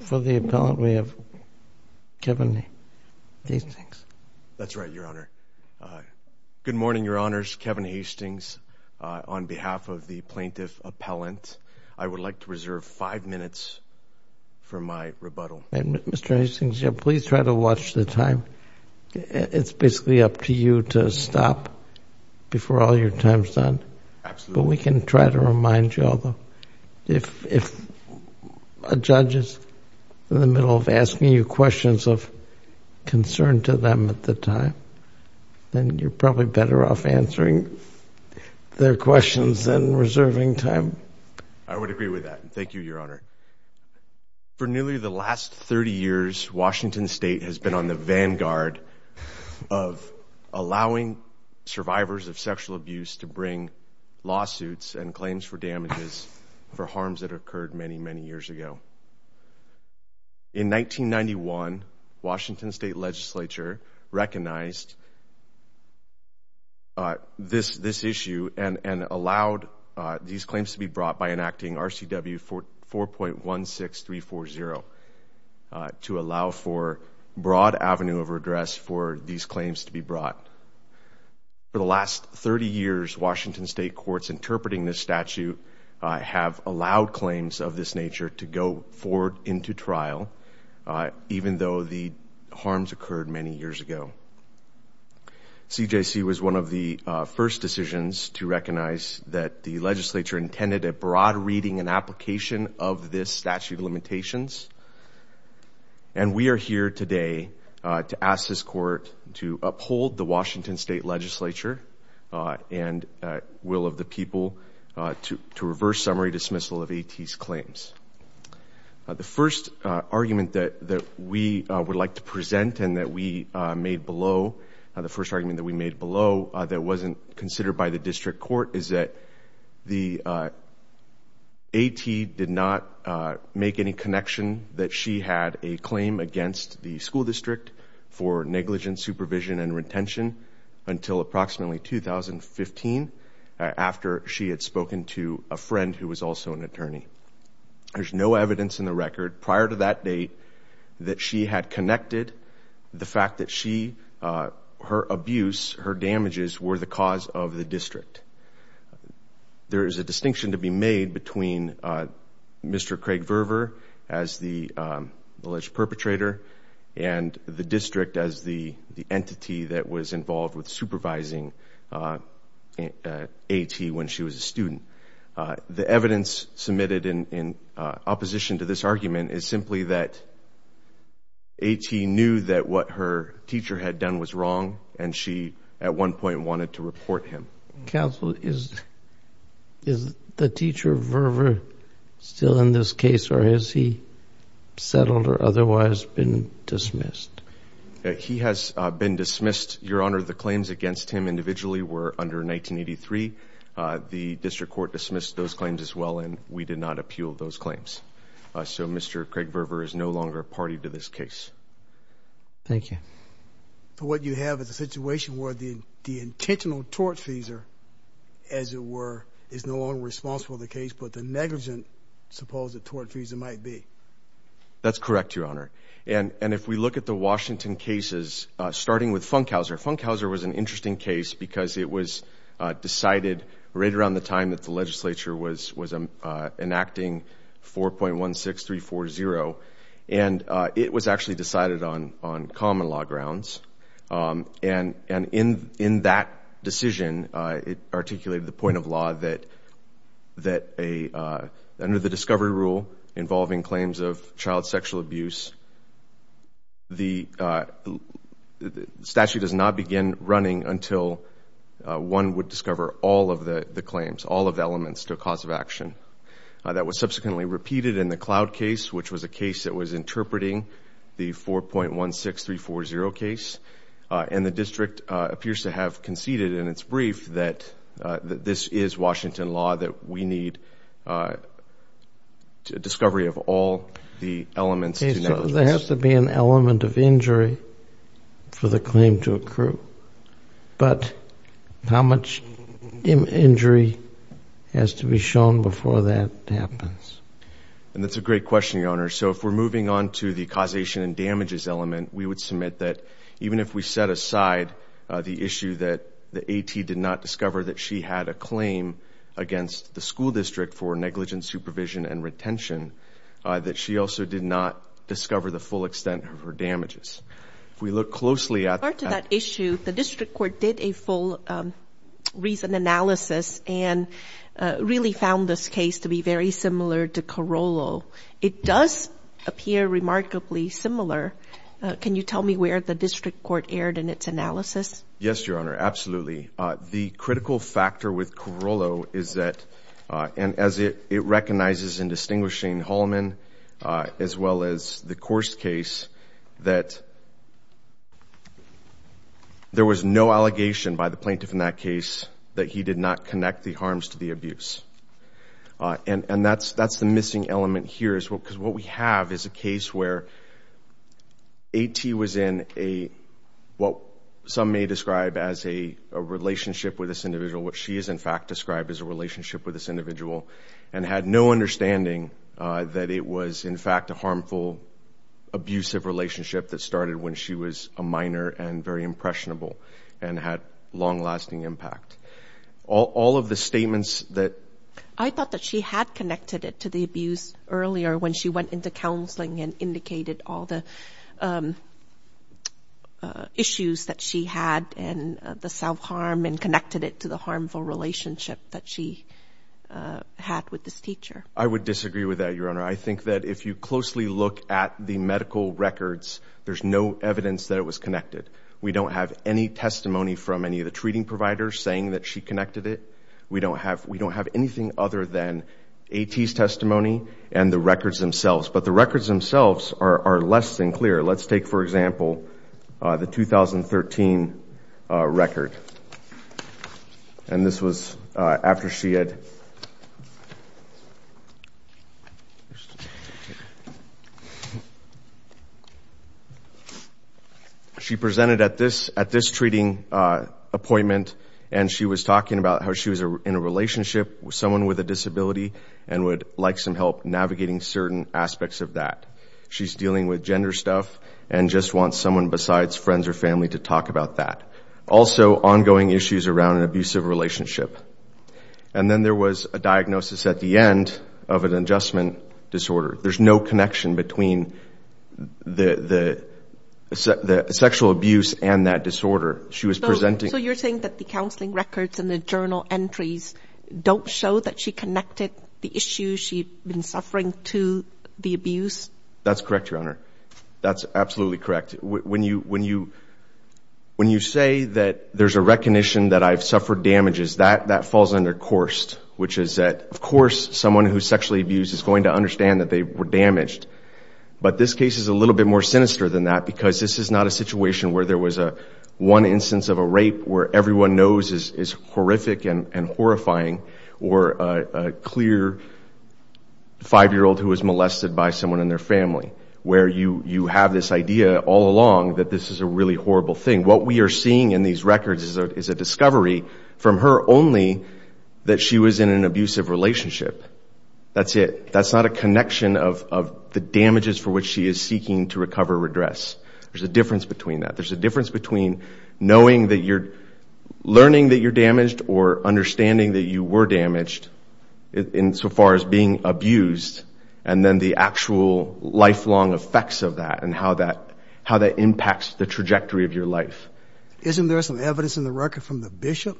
For the appellant, we have Kevin Hastings. That's right, Your Honor. Good morning, Your Honors. Kevin Hastings on behalf of the plaintiff appellant. I would like to reserve five minutes for my rebuttal. Mr. Hastings, please try to watch the time. It's basically up to you to stop before all your time is done. Absolutely. But we can try to remind you, if a judge is in the middle of asking you questions of concern to them at the time, then you're probably better off answering their questions than reserving time. I would agree with that. Thank you, Your Honor. For nearly the last 30 years, Washington State has been on the vanguard of allowing survivors of sexual abuse to bring lawsuits and claims for damages for harms that occurred many, many years ago. In 1991, Washington State Legislature recognized this issue and allowed these claims to be brought by enacting RCW 4.16340 to allow for broad avenue of redress for these claims to be brought. For the last 30 years, Washington State courts interpreting this statute have allowed claims of this nature to go forward into trial, even though the harms occurred many years ago. CJC was one of the first decisions to recognize that the legislature intended a broad reading and application of this statute limitations. And we are here today to ask this court to uphold the Washington State Legislature and will of the people to reverse summary dismissal of AT's claims. The first argument that we would like to present and that we made below, the first argument that we made below that wasn't considered by the district court is that the AT did not make any connection that she had a claim against the school district for negligent supervision and retention until approximately 2015 after she had spoken to a friend who was also an attorney. There's no evidence in the record prior to that date that she had connected the fact that she, her abuse, her damages were the cause of the district. There is a distinction to be made between Mr. Craig Verver as the alleged perpetrator and the district as the entity that was involved with supervising AT when she was a student. The evidence submitted in opposition to this argument is simply that AT knew that what her teacher had done was wrong and she at one point wanted to report him. Counsel, is the teacher Verver still in this case or has he settled or otherwise been dismissed? He has been dismissed. Your Honor, the claims against him individually were under 1983. The district court dismissed those claims as well and we did not appeal those claims. So Mr. Craig Verver is no longer a party to this case. Thank you. So what you have is a situation where the intentional tortfeasor, as it were, is no longer responsible for the case, but the negligent supposed tortfeasor might be. That's correct, Your Honor. And if we look at the Washington cases, starting with Funkhauser, Funkhauser was an interesting case because it was decided right around the time that the legislature was enacting 4.16340 and it was actually decided on common law grounds. And in that decision, it articulated the point of law that under the discovery rule involving claims of child sexual abuse, the statute does not begin running until one would discover all of the claims, all of the elements to a cause of action. That was subsequently repeated in the Cloud case, which was a case that was interpreting the 4.16340 case. And the district appears to have conceded in its brief that this is Washington law, that we need discovery of all the elements. There has to be an element of injury for the claim to accrue, but how much injury has to be shown before that happens? And that's a great question, Your Honor. So if we're moving on to the causation and damages element, we would submit that even if we set aside the issue that the AT did not discover that she had a claim against the school district for negligent supervision and retention, that she also did not discover the full extent of her damages. If we look closely at that issue, the district court did a full reason analysis and really found this case to be very similar to Carollo. It does appear remarkably similar. Can you tell me where the district court erred in its analysis? Yes, Your Honor. Absolutely. The critical factor with Carollo is that, and as it recognizes in Distinguished Shane Hallman, as well as the Coarse case, that there was no allegation by the plaintiff in that case that he did not connect the harms to the abuse. And that's the missing element here, because what we have is a case where AT was in what some may describe as a relationship with this individual, what she is in fact described as a relationship with this individual, and had no understanding that it was in fact a harmful, abusive relationship that started when she was a minor and very impressionable and had long-lasting impact. All of the statements that... I thought that she had connected it to the abuse earlier when she went into counseling and indicated all the issues that she had and the self-harm and connected it to the harmful relationship that she had with this teacher. I would disagree with that, Your Honor. I think that if you closely look at the medical records, there's no evidence that it was connected. We don't have any testimony from any of the treating providers saying that she connected it. We don't have anything other than records themselves. But the records themselves are less than clear. Let's take, for example, the 2013 record. And this was after she had... She presented at this treating appointment, and she was talking about how she was in a certain aspects of that. She's dealing with gender stuff and just wants someone besides friends or family to talk about that. Also, ongoing issues around an abusive relationship. And then there was a diagnosis at the end of an adjustment disorder. There's no connection between the sexual abuse and that disorder. She was presenting... So you're saying that the counseling records and the journal entries don't show that she connected the issue she'd been suffering to the abuse? That's correct, Your Honor. That's absolutely correct. When you say that there's a recognition that I've suffered damages, that falls under coursed, which is that, of course, someone who's sexually abused is going to understand that they were damaged. But this case is a little bit more sinister than that because this is not a situation where there was one instance of a rape where everyone knows is horrific and horrifying, or a clear five-year-old who was molested by someone in their family, where you have this idea all along that this is a really horrible thing. What we are seeing in these records is a discovery from her only that she was in an abusive relationship. That's it. That's not a connection of the damages for which she is seeking to recover or address. There's a difference between that. There's a difference between knowing that you're... Learning that you're damaged or understanding that you were damaged in so far as being abused, and then the actual lifelong effects of that and how that impacts the trajectory of your life. Isn't there some evidence in the record from the bishop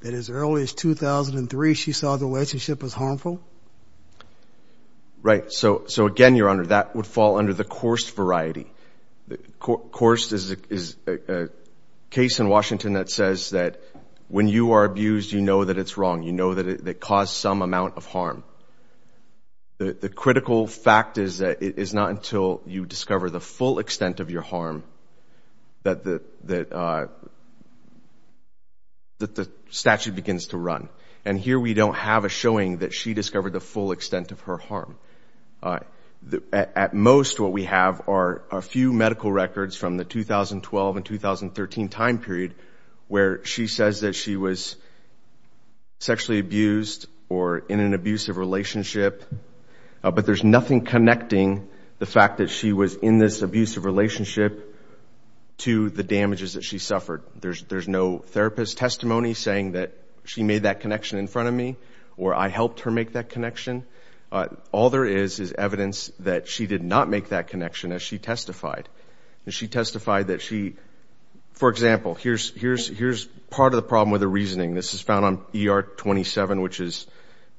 that as early as 2003, she saw the relationship as harmful? Right. So again, Your Honor, that would fall under the coursed variety. Coursed is a case in You know that it caused some amount of harm. The critical fact is that it is not until you discover the full extent of your harm that the statute begins to run. And here we don't have a showing that she discovered the full extent of her harm. At most, what we have are a few sexually abused or in an abusive relationship, but there's nothing connecting the fact that she was in this abusive relationship to the damages that she suffered. There's no therapist testimony saying that she made that connection in front of me or I helped her make that connection. All there is is evidence that she did not make that connection as she testified. And she testified that she... For example, here's part of the problem with the reasoning. This is on ER 27, which is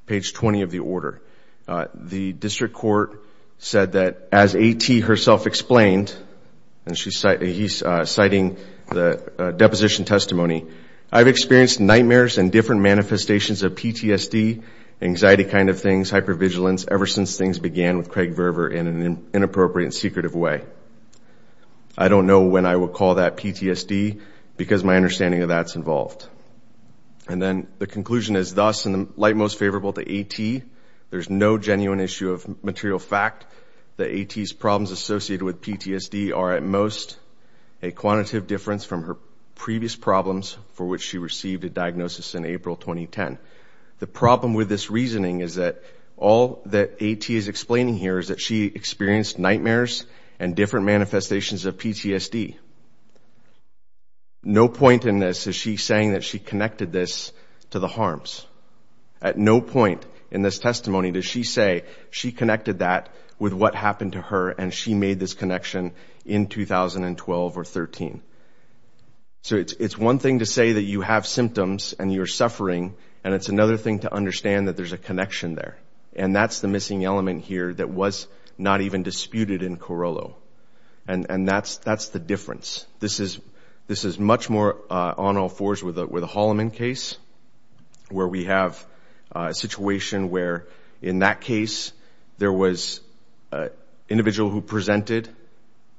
page 20 of the order. The district court said that as A.T. herself explained, and he's citing the deposition testimony, I've experienced nightmares and different manifestations of PTSD, anxiety kind of things, hypervigilance ever since things began with Craig Verver in an inappropriate and secretive way. I don't know when I would call that PTSD because my understanding of that's involved. And then the conclusion is thus in the light most favorable to A.T., there's no genuine issue of material fact that A.T.'s problems associated with PTSD are at most a quantitative difference from her previous problems for which she received a diagnosis in April 2010. The problem with this reasoning is that all that A.T. is explaining here is that she experienced nightmares and different manifestations of PTSD. No point in this is she saying that she connected this to the harms. At no point in this testimony does she say she connected that with what happened to her and she made this connection in 2012 or 13. So it's one thing to say that you have symptoms and you're suffering, and it's another thing to understand that there's a connection there. And that's the missing element here that was not even disputed in Corollo. And that's the difference. This is much more on all fours with the Holloman case where we have a situation where in that case there was an individual who presented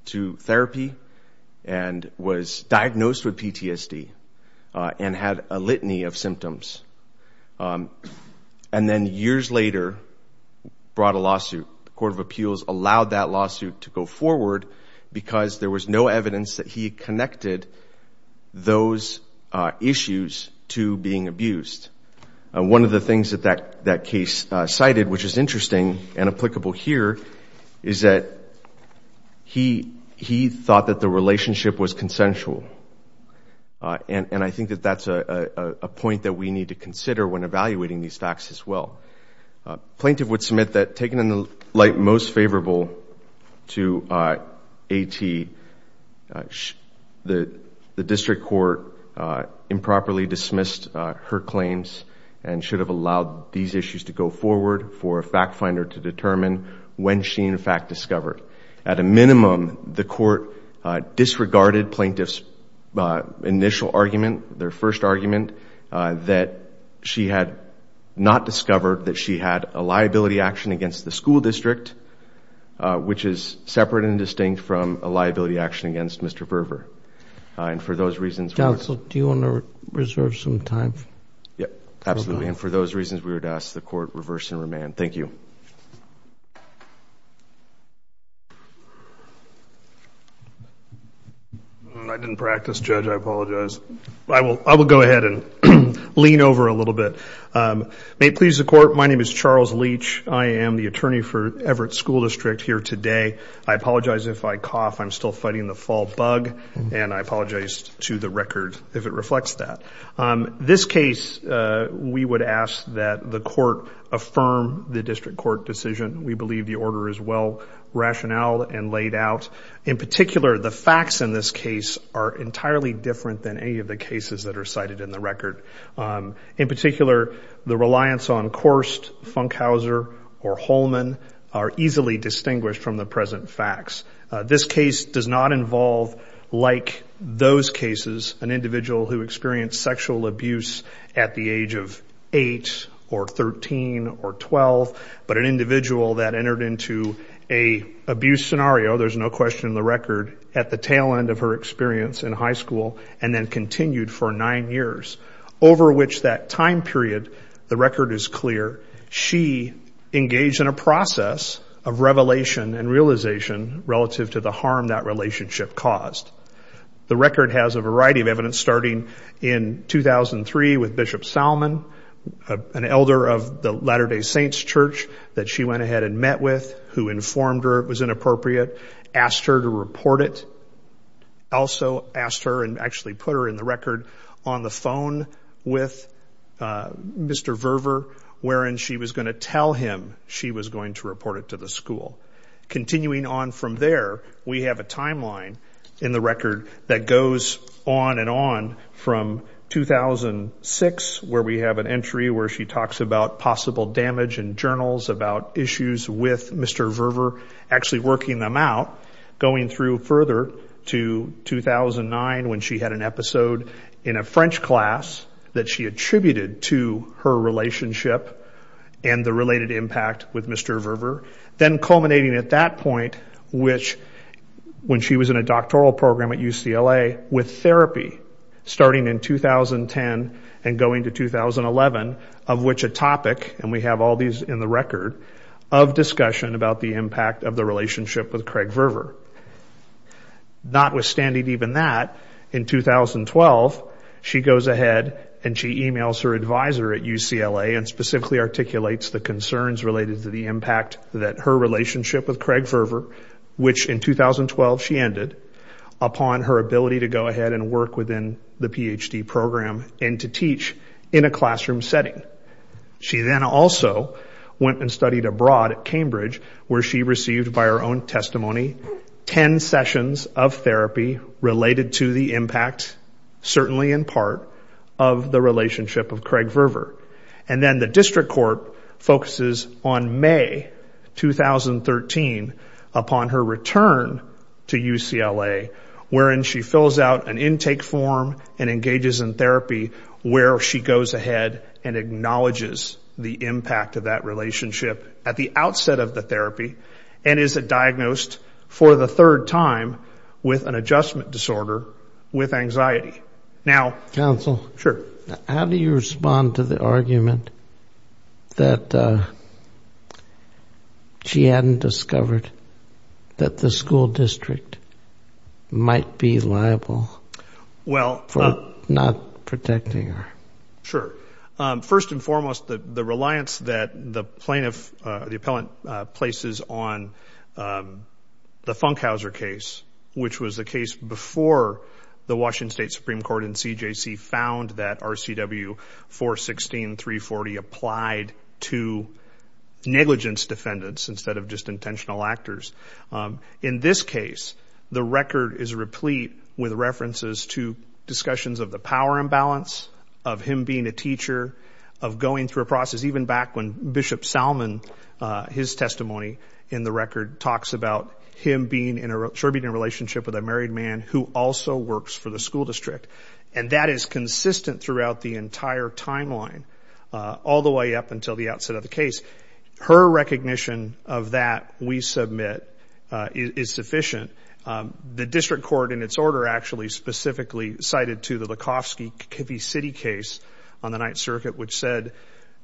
to therapy and was diagnosed with PTSD and had a litany of symptoms. And then years later brought a lawsuit. The Court of Appeals allowed that lawsuit to go forward because there was no evidence that he connected those issues to being abused. One of the things that that case cited, which is interesting and applicable here, is that he thought that the relationship was consensual. And I think that that's a point that we need to consider when evaluating these facts as well. Plaintiff would submit that taken in the light most favorable to AT, the district court improperly dismissed her claims and should have allowed these issues to go forward for a fact finder to determine when she in fact discovered. At a minimum, the court disregarded plaintiff's initial argument, their first argument, that she had not discovered that she had a liability action against the school district, which is separate and distinct from a liability action against Mr. Berger. And for those reasons... Counsel, do you want to reserve some time? Yep, absolutely. And for those reasons, we would ask the court reverse and remand. Thank you. I didn't practice, Judge. I apologize. I will go ahead and lean over a little bit. May it please the court, my name is Charles Leach. I am the attorney for Everett School District here today. I apologize if I cough. I'm still fighting the fall bug, and I apologize to the record if it reflects that. This case, we would ask that the court affirm the district court decision. We believe the order is well rationaled and laid out. In particular, the facts in this case are entirely different than any of the cases that are cited in the record. In particular, the reliance on Korst, Funkhauser, or Holman are easily distinguished from the present facts. This case does not involve, like those cases, an individual who experienced sexual abuse at the age of 8 or 13 or 12, but an individual that entered into an abuse scenario, there's no question in the record, at the tail end of her experience in high school, and then continued for nine years. Over which that time period, the record is clear, she engaged in a process of revelation and realization relative to the harm that relationship caused. The record has a variety of evidence, starting in 2003 with Bishop Salmon, an elder of the Latter Day Saints church that she went ahead and met with, who informed her it was inappropriate, asked her to report it. Also asked her and actually put her in the record on the phone with Mr. Verver, wherein she was going to tell him she was going to report it to the school. Continuing on from there, we have a timeline in the record that goes on and on from 2006, where we have an entry where she talks about possible damage in journals about issues with Mr. Verver, actually working them out, going through further to 2009 when she had an episode in a French class that she attributed to her relationship and the related impact with Mr. Verver. Then culminating at that point, which when she was in a doctoral program at UCLA with therapy, starting in 2010 and going to 2011, of which a topic, and we have all these in the record, of discussion about the impact of the notwithstanding even that, in 2012, she goes ahead and she emails her advisor at UCLA and specifically articulates the concerns related to the impact that her relationship with Craig Verver, which in 2012 she ended, upon her ability to go ahead and work within the PhD program and to teach in a classroom setting. She then also went and studied abroad at Cambridge, where she received by her own testimony 10 sessions of therapy related to the impact, certainly in part, of the relationship of Craig Verver. Then the district court focuses on May 2013, upon her return to UCLA, wherein she fills out an intake form and engages in therapy, where she goes ahead and acknowledges the impact of that relationship at the outset of the therapy and is diagnosed for the third time with an adjustment disorder with anxiety. Now- Counsel. Sure. How do you respond to the argument that she hadn't discovered that the school district might be liable for not protecting her? Sure. First and foremost, the reliance that the plaintiff, the appellant, places on the Funkhauser case, which was the case before the Washington State Supreme Court and CJC found that RCW 416.340 applied to negligence defendants instead of just intentional actors. In this case, the record is replete with references to discussions of the power imbalance, of him being a teacher, of going through a process, even back when Bishop Salmon, his testimony in the record, talks about him being in a relationship with a married man who also works for the school district. That is consistent throughout the entire timeline, all the way up until the outset of the the district court in its order actually specifically cited to the Likovsky-Kivy City case on the Ninth Circuit, which said,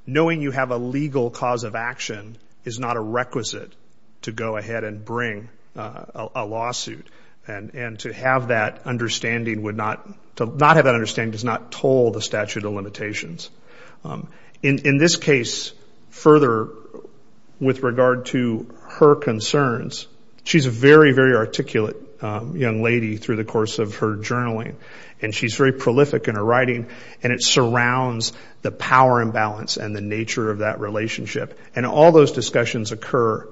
knowing you have a legal cause of action is not a requisite to go ahead and bring a lawsuit. And to have that understanding would not, to not have that understanding does not toll the statute of limitations. In this case, further with regard to her concerns, she's a very, very articulate young lady through the course of her journaling. And she's very prolific in her writing, and it surrounds the power imbalance and the nature of that relationship. And all those discussions occur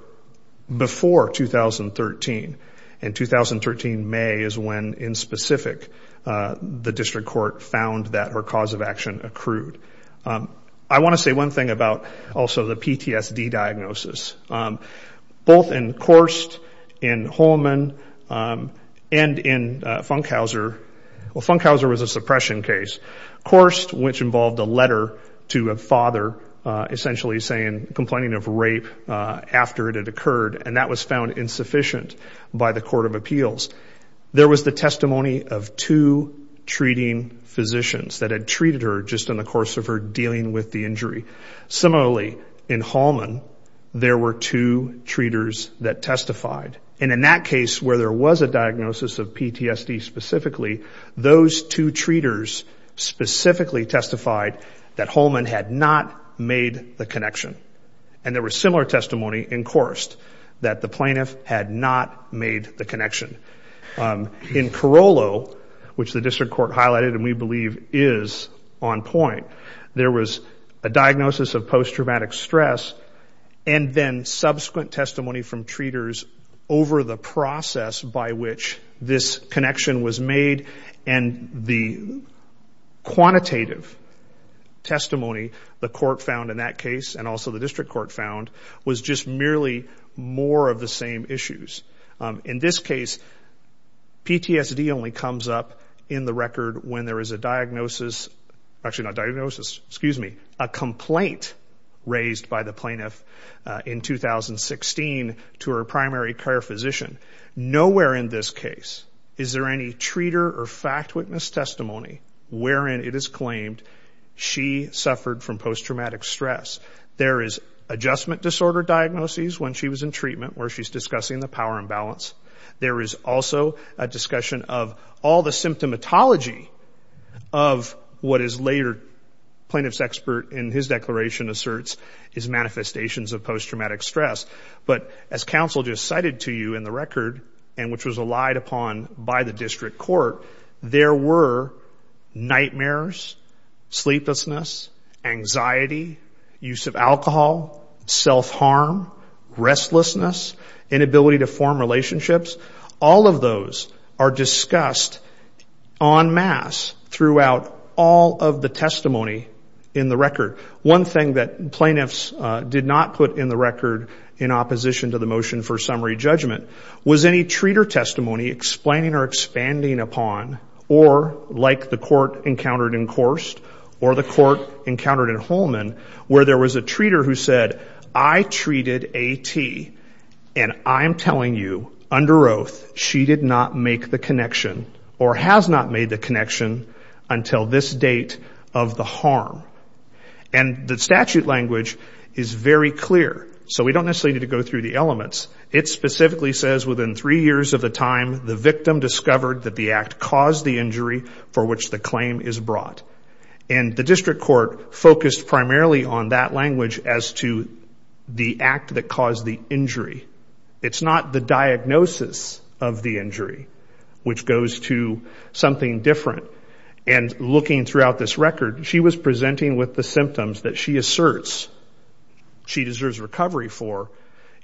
before 2013. And 2013 May is when, in specific, the district court found that her cause of action accrued. I want to say one thing about also the PTSD diagnosis, both in Korst, in Holman, and in Funkhauser. Well, Funkhauser was a suppression case. Korst, which involved a letter to a father essentially saying, complaining of rape after it had occurred, and that was found insufficient by the court of appeals. There was the testimony of two treating physicians that had treated her just in the course of her injury. Similarly, in Holman, there were two treaters that testified. And in that case, where there was a diagnosis of PTSD specifically, those two treaters specifically testified that Holman had not made the connection. And there was similar testimony in Korst, that the plaintiff had not made the connection. In Carollo, which the district court highlighted, and we believe is on point, there was a diagnosis of post-traumatic stress, and then subsequent testimony from treaters over the process by which this connection was made. And the quantitative testimony the court found in that case, and also the district court found, was just merely more of the same issues. In this case, PTSD only comes up in the record when there is a diagnosis, actually not diagnosis, excuse me, a complaint raised by the plaintiff in 2016 to her primary care physician. Nowhere in this case is there any treater or fact witness testimony wherein it is claimed she suffered from post-traumatic stress. There is adjustment disorder diagnoses when she was in treatment where she's discussing the power imbalance. There is also a discussion of all the symptomatology of what is later, plaintiff's expert in his declaration asserts, is manifestations of post-traumatic stress. But as counsel just cited to you in the record, and which was relied upon by the district court, there were nightmares, sleeplessness, anxiety, use of alcohol, self-harm, restlessness, inability to form relationships. All of those are discussed en masse throughout all of the testimony in the record. One thing that plaintiffs did not put in the record in opposition to the motion for summary judgment was any treater testimony explaining or expanding upon, or like the court encountered in Korst, or the court encountered in Holman, where there was a treater who said, I treated A.T. and I'm telling you under oath, she did not make the connection or has not made the connection until this date of the harm. And the statute language is very clear, so we don't necessarily need to go through the elements. It specifically says within three years of the time, the victim discovered that the act caused the injury for which the claim is brought. And the district court focused primarily on that language as to the act that caused the injury. It's not the diagnosis of the injury which goes to something different. And looking throughout this record, she was presenting with the symptoms that she asserts she deserves recovery for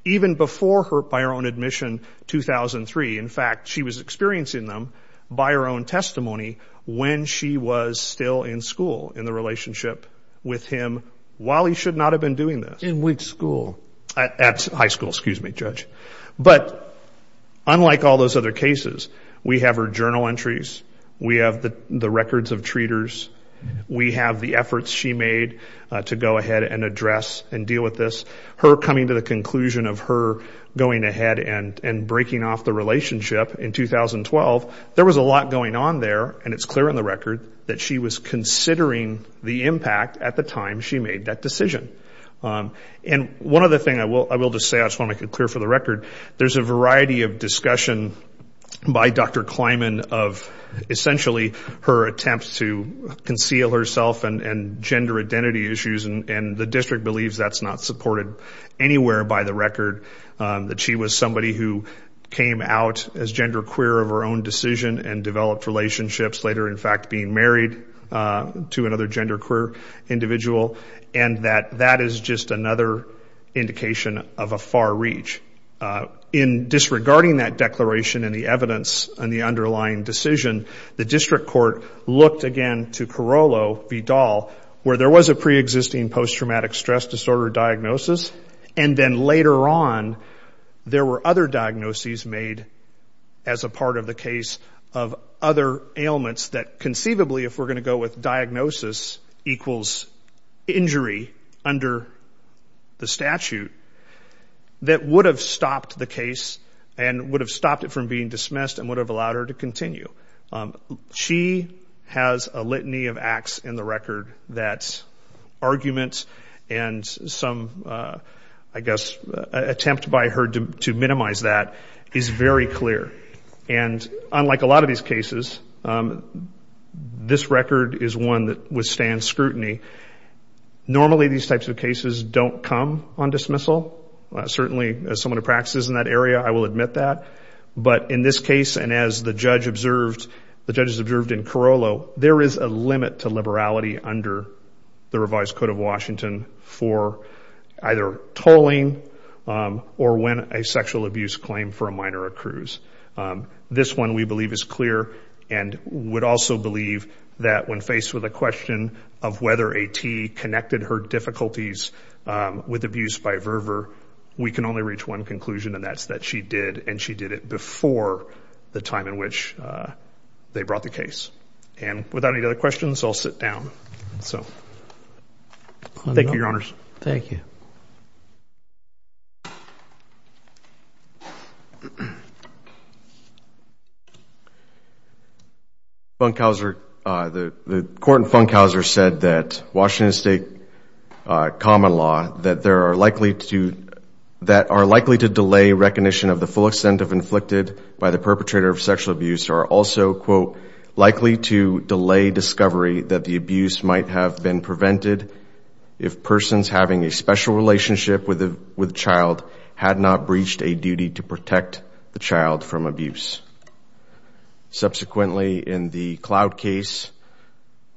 even before her, by her own admission, 2003. In fact, she was experiencing them by her own testimony when she was still in school, in the relationship with him while he should not have been doing this. In which school? At high school, excuse me, Judge. But unlike all those other cases, we have her journal entries, we have the records of treaters, we have the efforts she made to go ahead and address and deal with this. Her coming to the conclusion of her going ahead and breaking off the relationship in 2012, there was a lot going on there. And it's clear in the record that she was considering the impact at the time she made that decision. And one other thing I will just say, I just want to make it clear for the record, there's a variety of discussion by Dr. Kleiman of essentially her attempts to conceal herself and gender identity issues. And the district believes that's not supported anywhere by the record. That she was somebody who came out as genderqueer of her own decision and developed relationships, later in fact being married to another genderqueer individual. And that that is just another indication of a far reach. In disregarding that declaration and the evidence and the underlying decision, the district court looked again to Carollo v. Dahl, where there was a pre-existing post-traumatic stress disorder diagnosis, and then later on there were other diagnoses made as a part of the case of other ailments that conceivably, if we're going to go with diagnosis equals injury under the statute, that would have stopped the case and would have stopped it from being dismissed and would have allowed her to continue. So there's a lot of scrutiny of acts in the record that's argument and some, I guess, attempt by her to minimize that is very clear. And unlike a lot of these cases, this record is one that withstands scrutiny. Normally these types of cases don't come on dismissal. Certainly as someone who practices in that area, I will admit that. But in this case, and as the judge observed, the judges observed in this case that there was a limit to liberality under the revised code of Washington for either tolling or when a sexual abuse claim for a minor accrues. This one we believe is clear and would also believe that when faced with a question of whether a T connected her difficulties with abuse by Verver, we can only reach one conclusion and that's that she did, and she did it before the time in which they brought the case. And without any other questions, I'll sit down. So thank you, your honors. Thank you. Funkhouser, the court in Funkhouser said that Washington state common law that there are likely to, that are likely to delay recognition of the full extent of inflicted by the perpetrator of the abuse. There are likely to delay discovery that the abuse might have been prevented if persons having a special relationship with a child had not breached a duty to protect the child from abuse. Subsequently, in the Cloud case,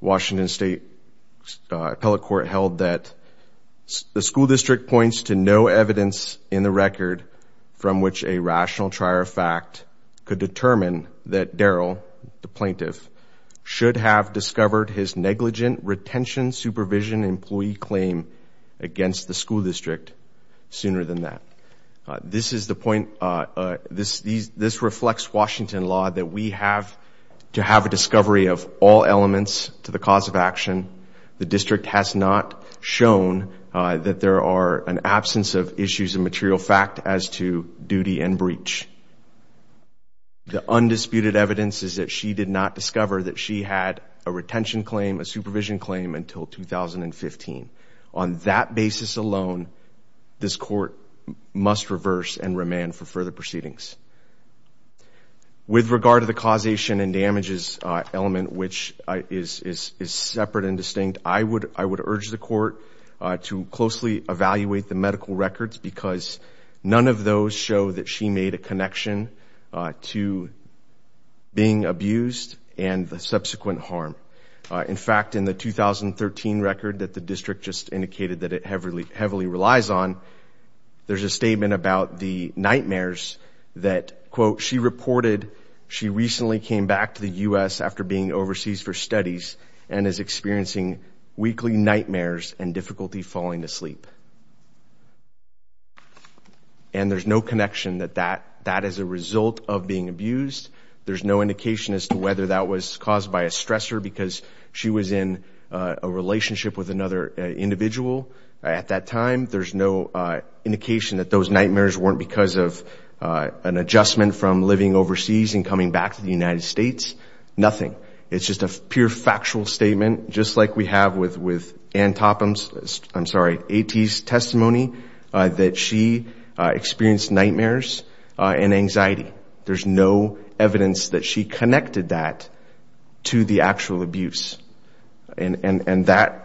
Washington state appellate court held that the school district points to no evidence in the should have discovered his negligent retention supervision employee claim against the school district sooner than that. This is the point, this reflects Washington law that we have to have a discovery of all elements to the cause of action. The district has not shown that there are an absence of issues of material fact as to duty and breach. The undisputed evidence is that she did not discover that she had a retention claim, a supervision claim until 2015. On that basis alone, this court must reverse and remand for further proceedings. With regard to the causation and damages element, which is separate and distinct, I would urge the court to closely evaluate the medical records because none of those show that she made a connection to being abused and the subsequent harm. In fact, in the 2013 record that the district just indicated that it heavily relies on, there's a statement about the nightmares that, quote, she reported she recently came back to the U.S. after being overseas for studies and is experiencing weekly nightmares and difficulty falling asleep. And there's no connection that that is a result of being abused. There's no indication as to whether that was caused by a stressor because she was in a relationship with another individual at that time. There's no indication that those nightmares weren't because of an adjustment from living overseas and coming back to the United States, nothing. It's just a pure Antopim's, I'm sorry, A.T.'s testimony that she experienced nightmares and anxiety. There's no evidence that she connected that to the actual abuse. And that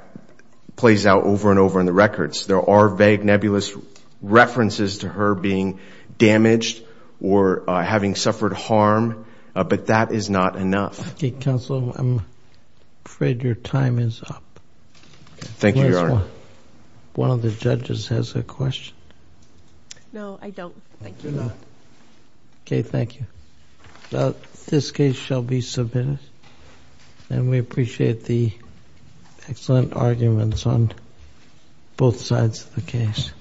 plays out over and over in the records. There are vague nebulous references to her being damaged or having suffered harm, but that is not enough. Okay, Counselor, I'm afraid your time is up. Thank you, Your Honor. One of the judges has a question. No, I don't. Thank you. Okay, thank you. This case shall be submitted. And we appreciate the excellent arguments on both sides of the case. Thank you.